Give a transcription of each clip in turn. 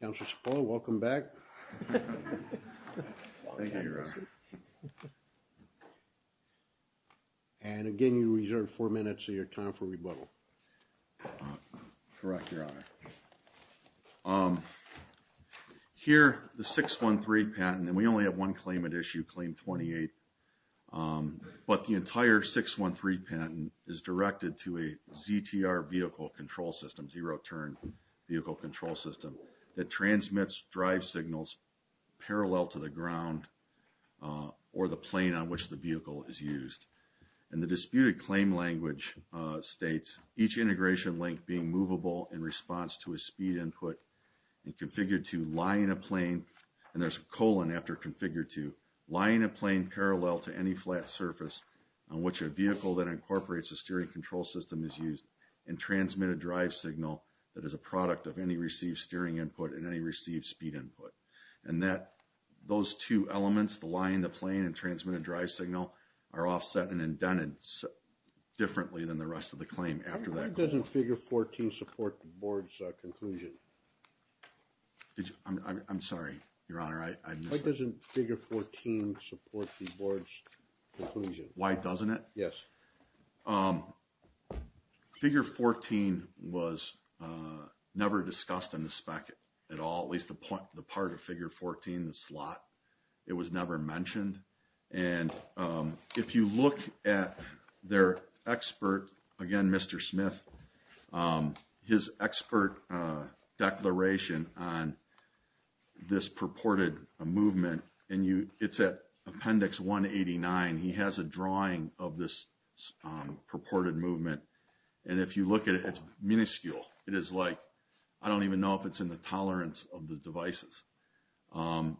Councilor Spall, welcome back. Thank you, Your Honor. And again, you reserve four minutes of your time for rebuttal. Correct, Your Honor. Here, the 613 patent, and we only have one claim at issue, claim 28, but the entire 613 patent is directed to a ZTR vehicle control system, zero turn vehicle control system, that transmits drive signals parallel to the ground or the plane on which the vehicle is used. And the disputed claim language states, each integration link being movable in response to a speed input and configured to lie in a plane, and there's a colon after configured to, lie in a plane parallel to any flat surface on which a vehicle that is a product of any received steering input and any received speed input. And that, those two elements, the lie in the plane and transmitted drive signal, are offset and indented differently than the rest of the claim after that. Why doesn't figure 14 support the board's conclusion? I'm sorry, Your Honor. Why doesn't figure 14 support the board's conclusion? Why doesn't it? Yes. Figure 14 was never discussed in the spec at all, at least the part of figure 14, the slot, it was never mentioned. And if you look at their expert, again, Mr. Smith, his expert declaration on this purported movement, and you, it's at appendix 189, he has a drawing of this purported movement. And if you look at it, it's minuscule. It is like, I don't even know if it's in the tolerance of the devices. And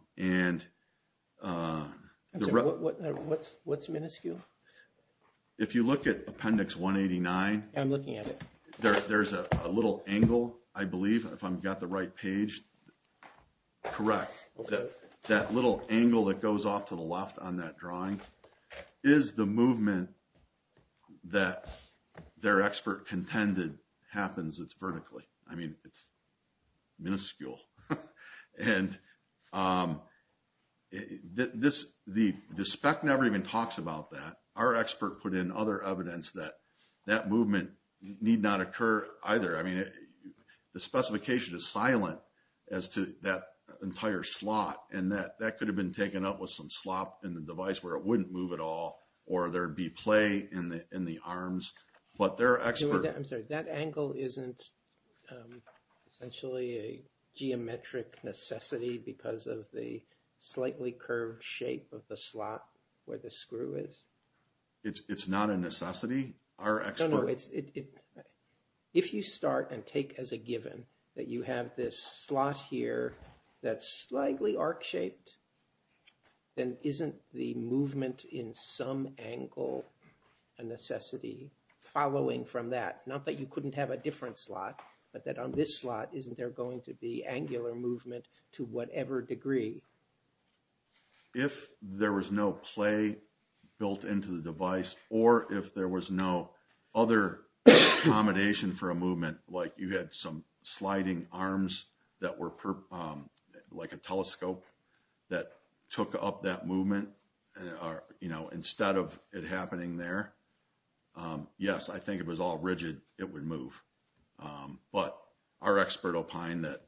what's minuscule? If you look at appendix 189, I'm looking at it, there's a little angle, I believe, if I've got the right page, correct. That little angle that goes off to the left on that drawing is the movement that their expert contended happens, it's vertically. I mean, it's minuscule. And this, the spec never even talks about that. Our expert put in other evidence that that movement need not occur either. I mean, the specification is silent as to that entire slot. And that could have been taken up with some slop in the device where it wouldn't move at all, or there'd be play in the arms. But their expert- I'm sorry, that angle isn't essentially a geometric necessity because of the slightly curved shape of the slot where the screw is? It's not a necessity. Our expert- If you start and take as a given that you have this slot here that's slightly arc-shaped, then isn't the movement in some angle a necessity following from that? Not that you couldn't have a different slot, but that on this slot, isn't there going to be angular movement to whatever degree? If there was no play built into the device, or if there was no other accommodation for a movement, like you had some sliding arms that were like a telescope that took up that movement, you know, instead of it happening there, yes, I think it was all rigid, it would move. But our expert opined that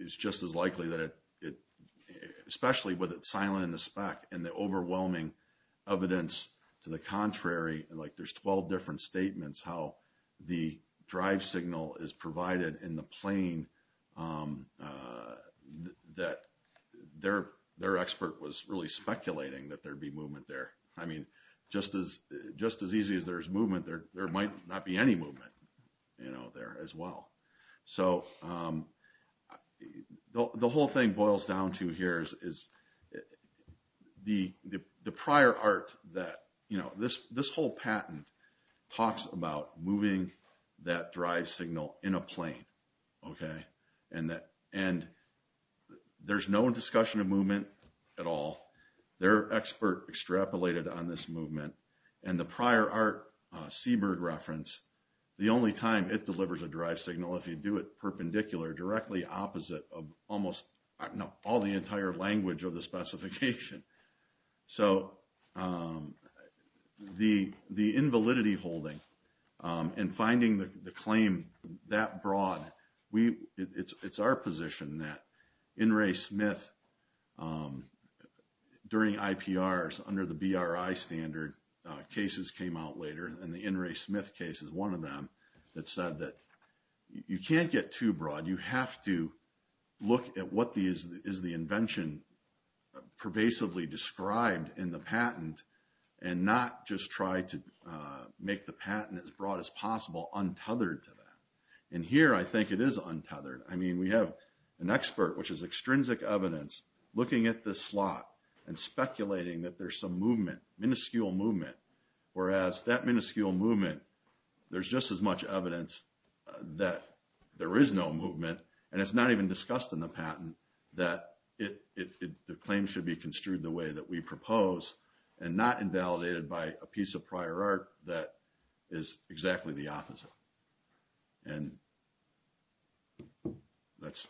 it's just as likely that it, especially with it silent in the spec, and the overwhelming evidence to the contrary, like there's 12 different statements how the drive signal is provided in the plane that their expert was really speculating that there'd be movement there. I mean, just as easy as there's movement, there might not be any movement. You know, there as well. So, the whole thing boils down to here is the prior art that, you know, this whole patent talks about moving that drive signal in a plane, okay? And there's no discussion of movement at all. Their expert extrapolated on this movement, and the prior art reference, the only time it delivers a drive signal, if you do it perpendicular, directly opposite of almost all the entire language of the specification. So, the invalidity holding and finding the claim that broad, it's our position that in Ray Smith, during IPRs under the BRI standard, cases came out later, and the in Ray Smith case is one of them, that said that you can't get too broad. You have to look at what is the invention pervasively described in the patent, and not just try to make the patent as broad as possible untethered to that. And here, I think it is untethered. I mean, we have an expert, which is extrinsic evidence, looking at this slot and speculating that there's some movement, minuscule movement, whereas that minuscule movement, there's just as much evidence that there is no movement, and it's not even discussed in the patent, that the claim should be construed the way that we propose, and not invalidated by a piece of prior art that is exactly the opposite. And that's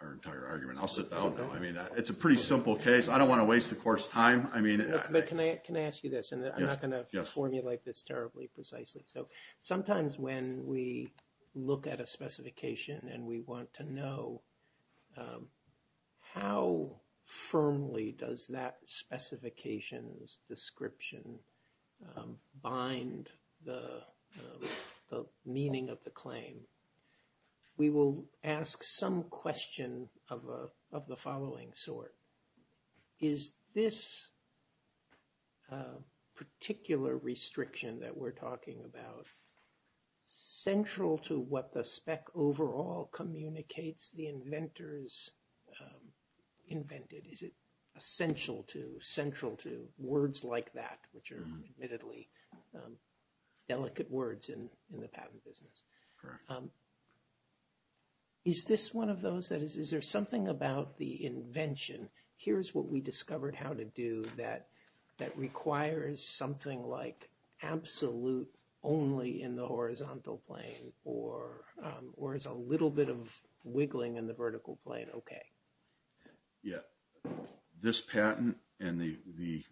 our entire argument. I'll sit down now. I mean, it's a pretty simple case. I don't want to waste the course time. I mean... But can I ask you this, and I'm not going to formulate this terribly precisely. So, sometimes when we look at a specification, and we want to know how firmly does that specification's description bind the meaning of the claim, we will ask some question of the following sort. Is this particular restriction that we're talking about central to what the spec overall communicates the inventors invented? Is it essential to, central to, words like that, which are admittedly delicate words in the patent business? Is this one of those that is, is there something about the invention, here's what we discovered how to do, that requires something like absolute only in the horizontal plane, or is a little bit of wiggling in the vertical plane okay? Yeah, this patent and the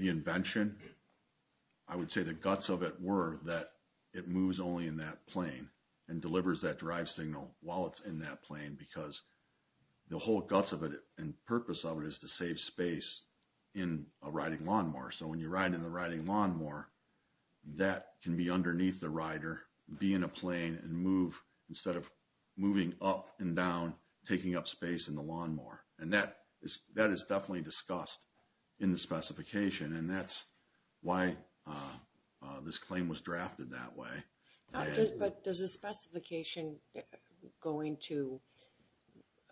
invention, I would say the guts of it were that it moves only in that plane and delivers that drive signal while it's in that plane because the whole guts of it and purpose of it is to save space in a riding lawnmower. So, when you ride in the riding lawnmower, that can be underneath the rider, be in a plane and move instead of moving up and down, taking up space in the lawnmower. And that is definitely discussed in the specification and that's why this claim was drafted that way. But does the specification going to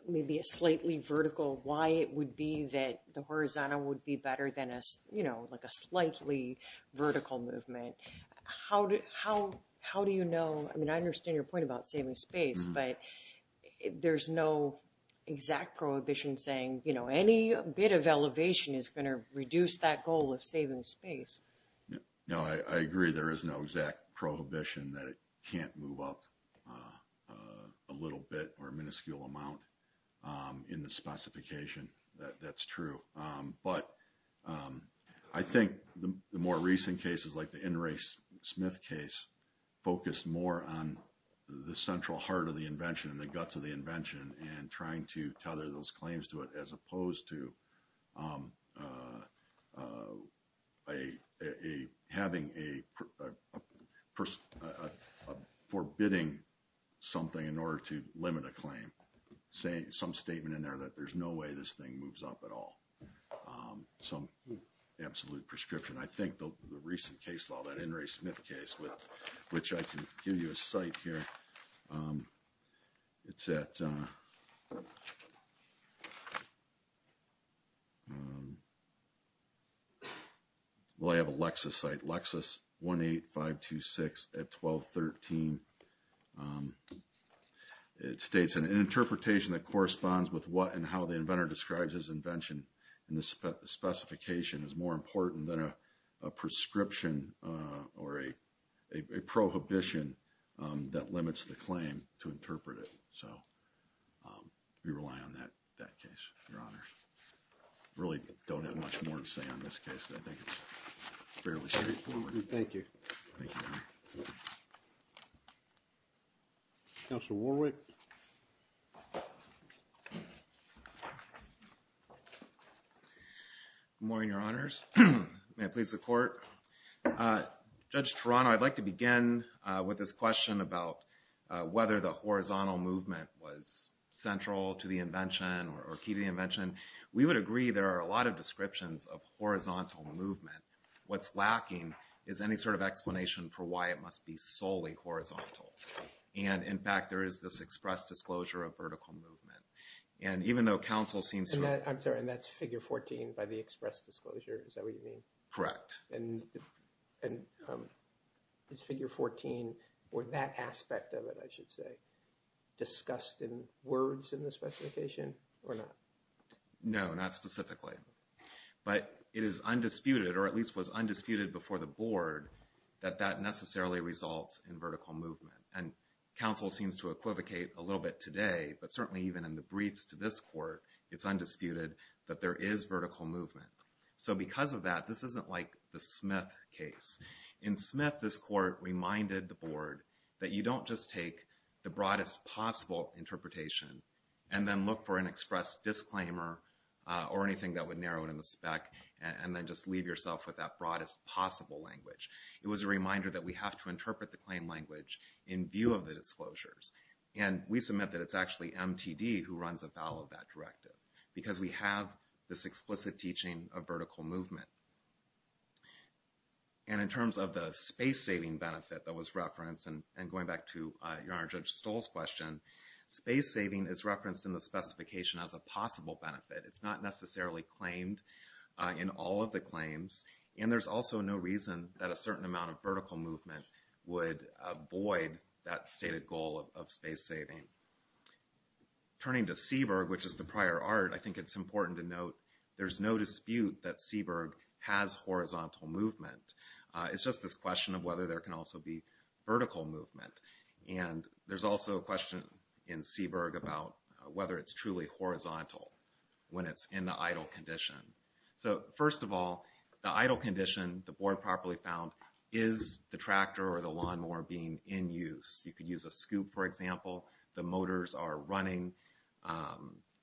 maybe a slightly vertical, why it would be that the horizontal would be better than a, you know, like a slightly vertical movement? How do you know, I mean, I understand your point about saving space, but there's no exact prohibition saying, you know, any bit of elevation is going to reduce that goal of saving space. No, I agree there is no exact prohibition that it can't move up a little bit or minuscule amount in the specification, that's true. But I think the more recent cases like the In re Smith case focused more on the central heart of the invention and the guts of the invention and trying to tether those claims to it as opposed to having a forbidding something in order to limit a claim, some statement in there that there's no way this thing moves up at all. Some absolute prescription. I think the recent case law that In re Smith case, which I can give you a site here. It's at, well, I have a Lexus site, Lexus 18526 at 1213. It states an interpretation that corresponds with what and how the inventor describes his invention and the specification is more important than a prescription or a prohibition that limits the claim to interpret it. So we rely on that case, Your Honors. Really don't have much more to say on this case. I think it's fairly straightforward. Thank you. Counselor Warwick. Good morning, Your Honors. May it please the court. Judge Toronto, I'd like to begin with this question about whether the horizontal movement was central to the invention or key to the invention. We would agree there are a lot of descriptions of horizontal movement. What's lacking is any sort of explanation for why it must be solely horizontal. And in fact, there is this express disclosure of vertical movement. And even though counsel seems to, I'm sorry, and that's figure 14 by the express disclosure. Is that what you mean? Correct. And is figure 14 or that aspect of it, I should say, discussed in words in the specification or not? No, not specifically. But it is undisputed or at least was undisputed before the board that that necessarily results in vertical movement. And counsel seems to equivocate a little bit today, but certainly even in the briefs to this court, it's undisputed that there is vertical movement. So because of that, this isn't like the Smith case. In Smith, this court reminded the board that you don't just take the broadest possible interpretation and then look for an express disclaimer or anything that would narrow it in the spec and then just leave yourself with that broadest possible language. It was a reminder that we have to interpret the claim language in view of the disclosures. And we submit that it's actually MTD who runs afoul of that directive because we have this explicit teaching of vertical movement. And in terms of the space-saving benefit that was referenced and going back to Your Honor, Judge Stoll's question, space-saving is referenced in the specification as a possible benefit. It's not necessarily claimed in all of the claims. And there's also no reason that a certain amount of vertical movement would avoid that stated goal of space-saving. Turning to Seaburg, which is the prior art, I think it's important to note there's no dispute that Seaburg has horizontal movement. It's just this question of whether there can also be vertical movement. And there's also a question in Seaburg about whether it's truly horizontal when it's in the idle condition. So first of all, the idle condition, the board properly found, is the tractor or the lawnmower being in use? You could use a scoop, for example. The motors are running.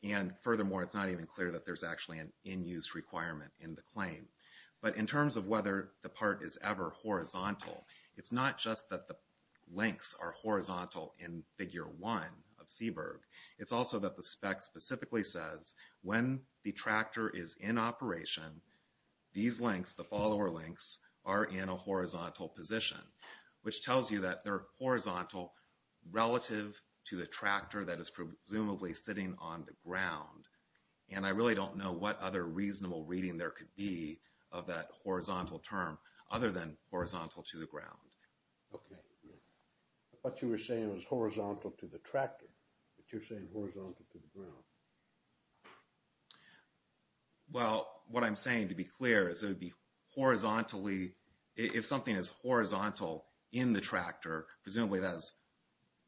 And furthermore, it's not even clear that there's actually an in-use requirement in the claim. But in terms of whether the part is ever horizontal, it's not just that the links are horizontal in Figure 1 of Seaburg. It's also that the spec specifically says when the tractor is in operation, these links, the follower links, are in a horizontal position, which tells you that they're horizontal relative to the tractor that is presumably sitting on the ground. And I really don't know what other reasonable reading there could be of that horizontal term other than horizontal to the ground. Okay. What you were saying was horizontal to the tractor, but you're saying horizontal to the ground. Well, what I'm saying, to be clear, is it would be horizontally, if something is horizontal in the tractor, presumably that's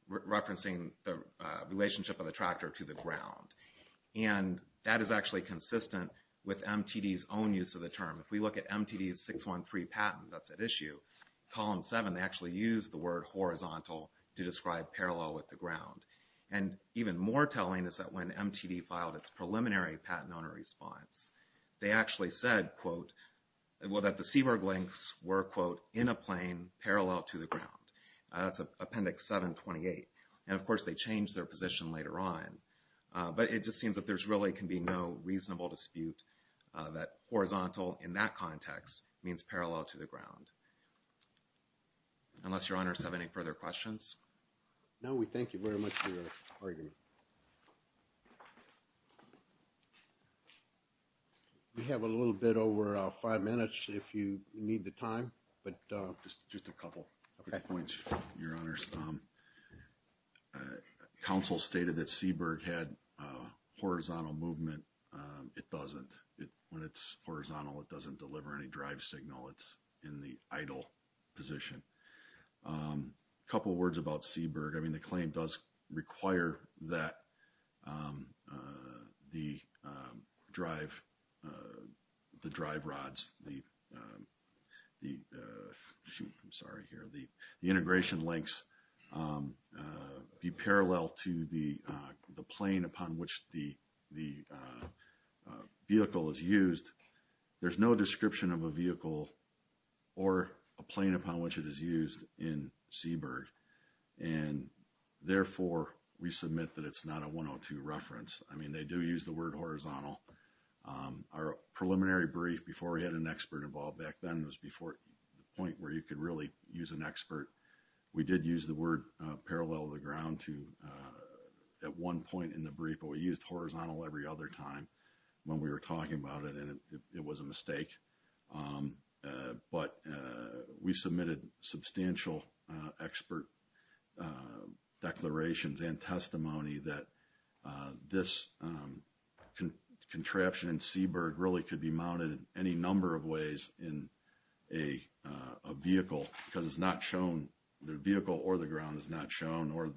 referencing the relationship of the tractor to the ground. And that is actually consistent with MTD's own use of the term. If we look at MTD's 613 patent, that's at issue. Column 7, they actually use the word horizontal to describe parallel with the ground. And even more telling is that when MTD filed its preliminary patent owner response, they actually said, quote, well, that the Seaburg links were, quote, in a plane parallel to the ground. That's Appendix 728. And of course, they changed their position later on. But it just seems that there really can be no reasonable dispute that horizontal in that context means parallel to the ground. Unless your honors have any further questions? No, we thank you very much for your argument. We have a little bit over five minutes if you need the time. But just a couple of points, your honors. Council stated that Seaburg had horizontal movement. It doesn't. When it's horizontal, it doesn't deliver any drive signal. It's in the idle position. A couple of words about Seaburg. I mean, the claim does require that the drive rods, the integration links be parallel to the plane upon which the vehicle is used. There's no description of a vehicle or a plane upon which it is used in Seaburg. And therefore, we submit that it's not a 102 reference. I mean, they do use the word horizontal. Our preliminary brief before we had an expert involved back then was before the point where you could really use an expert. We did use the word parallel to the ground at one point in the brief. But we used horizontal every other time when we were talking about it. It was a mistake. But we submitted substantial expert declarations and testimony that this contraption in Seaburg really could be mounted any number of ways in a vehicle. Because it's not shown, the vehicle or the ground is not shown, or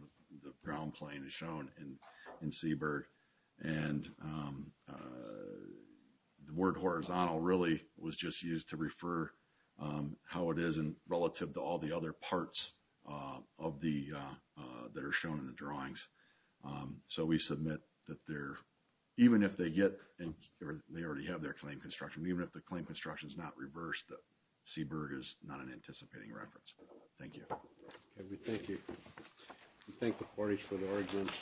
the ground plane is shown in Seaburg. And the word horizontal really was just used to refer how it is relative to all the other parts that are shown in the drawings. So we submit that even if they get, or they already have their claim construction, even if the claim construction is not reversed, Seaburg is not an anticipating reference. Thank you. We thank you. We thank the parties for their arguments.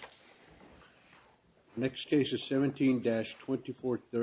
Next case is 17-2430.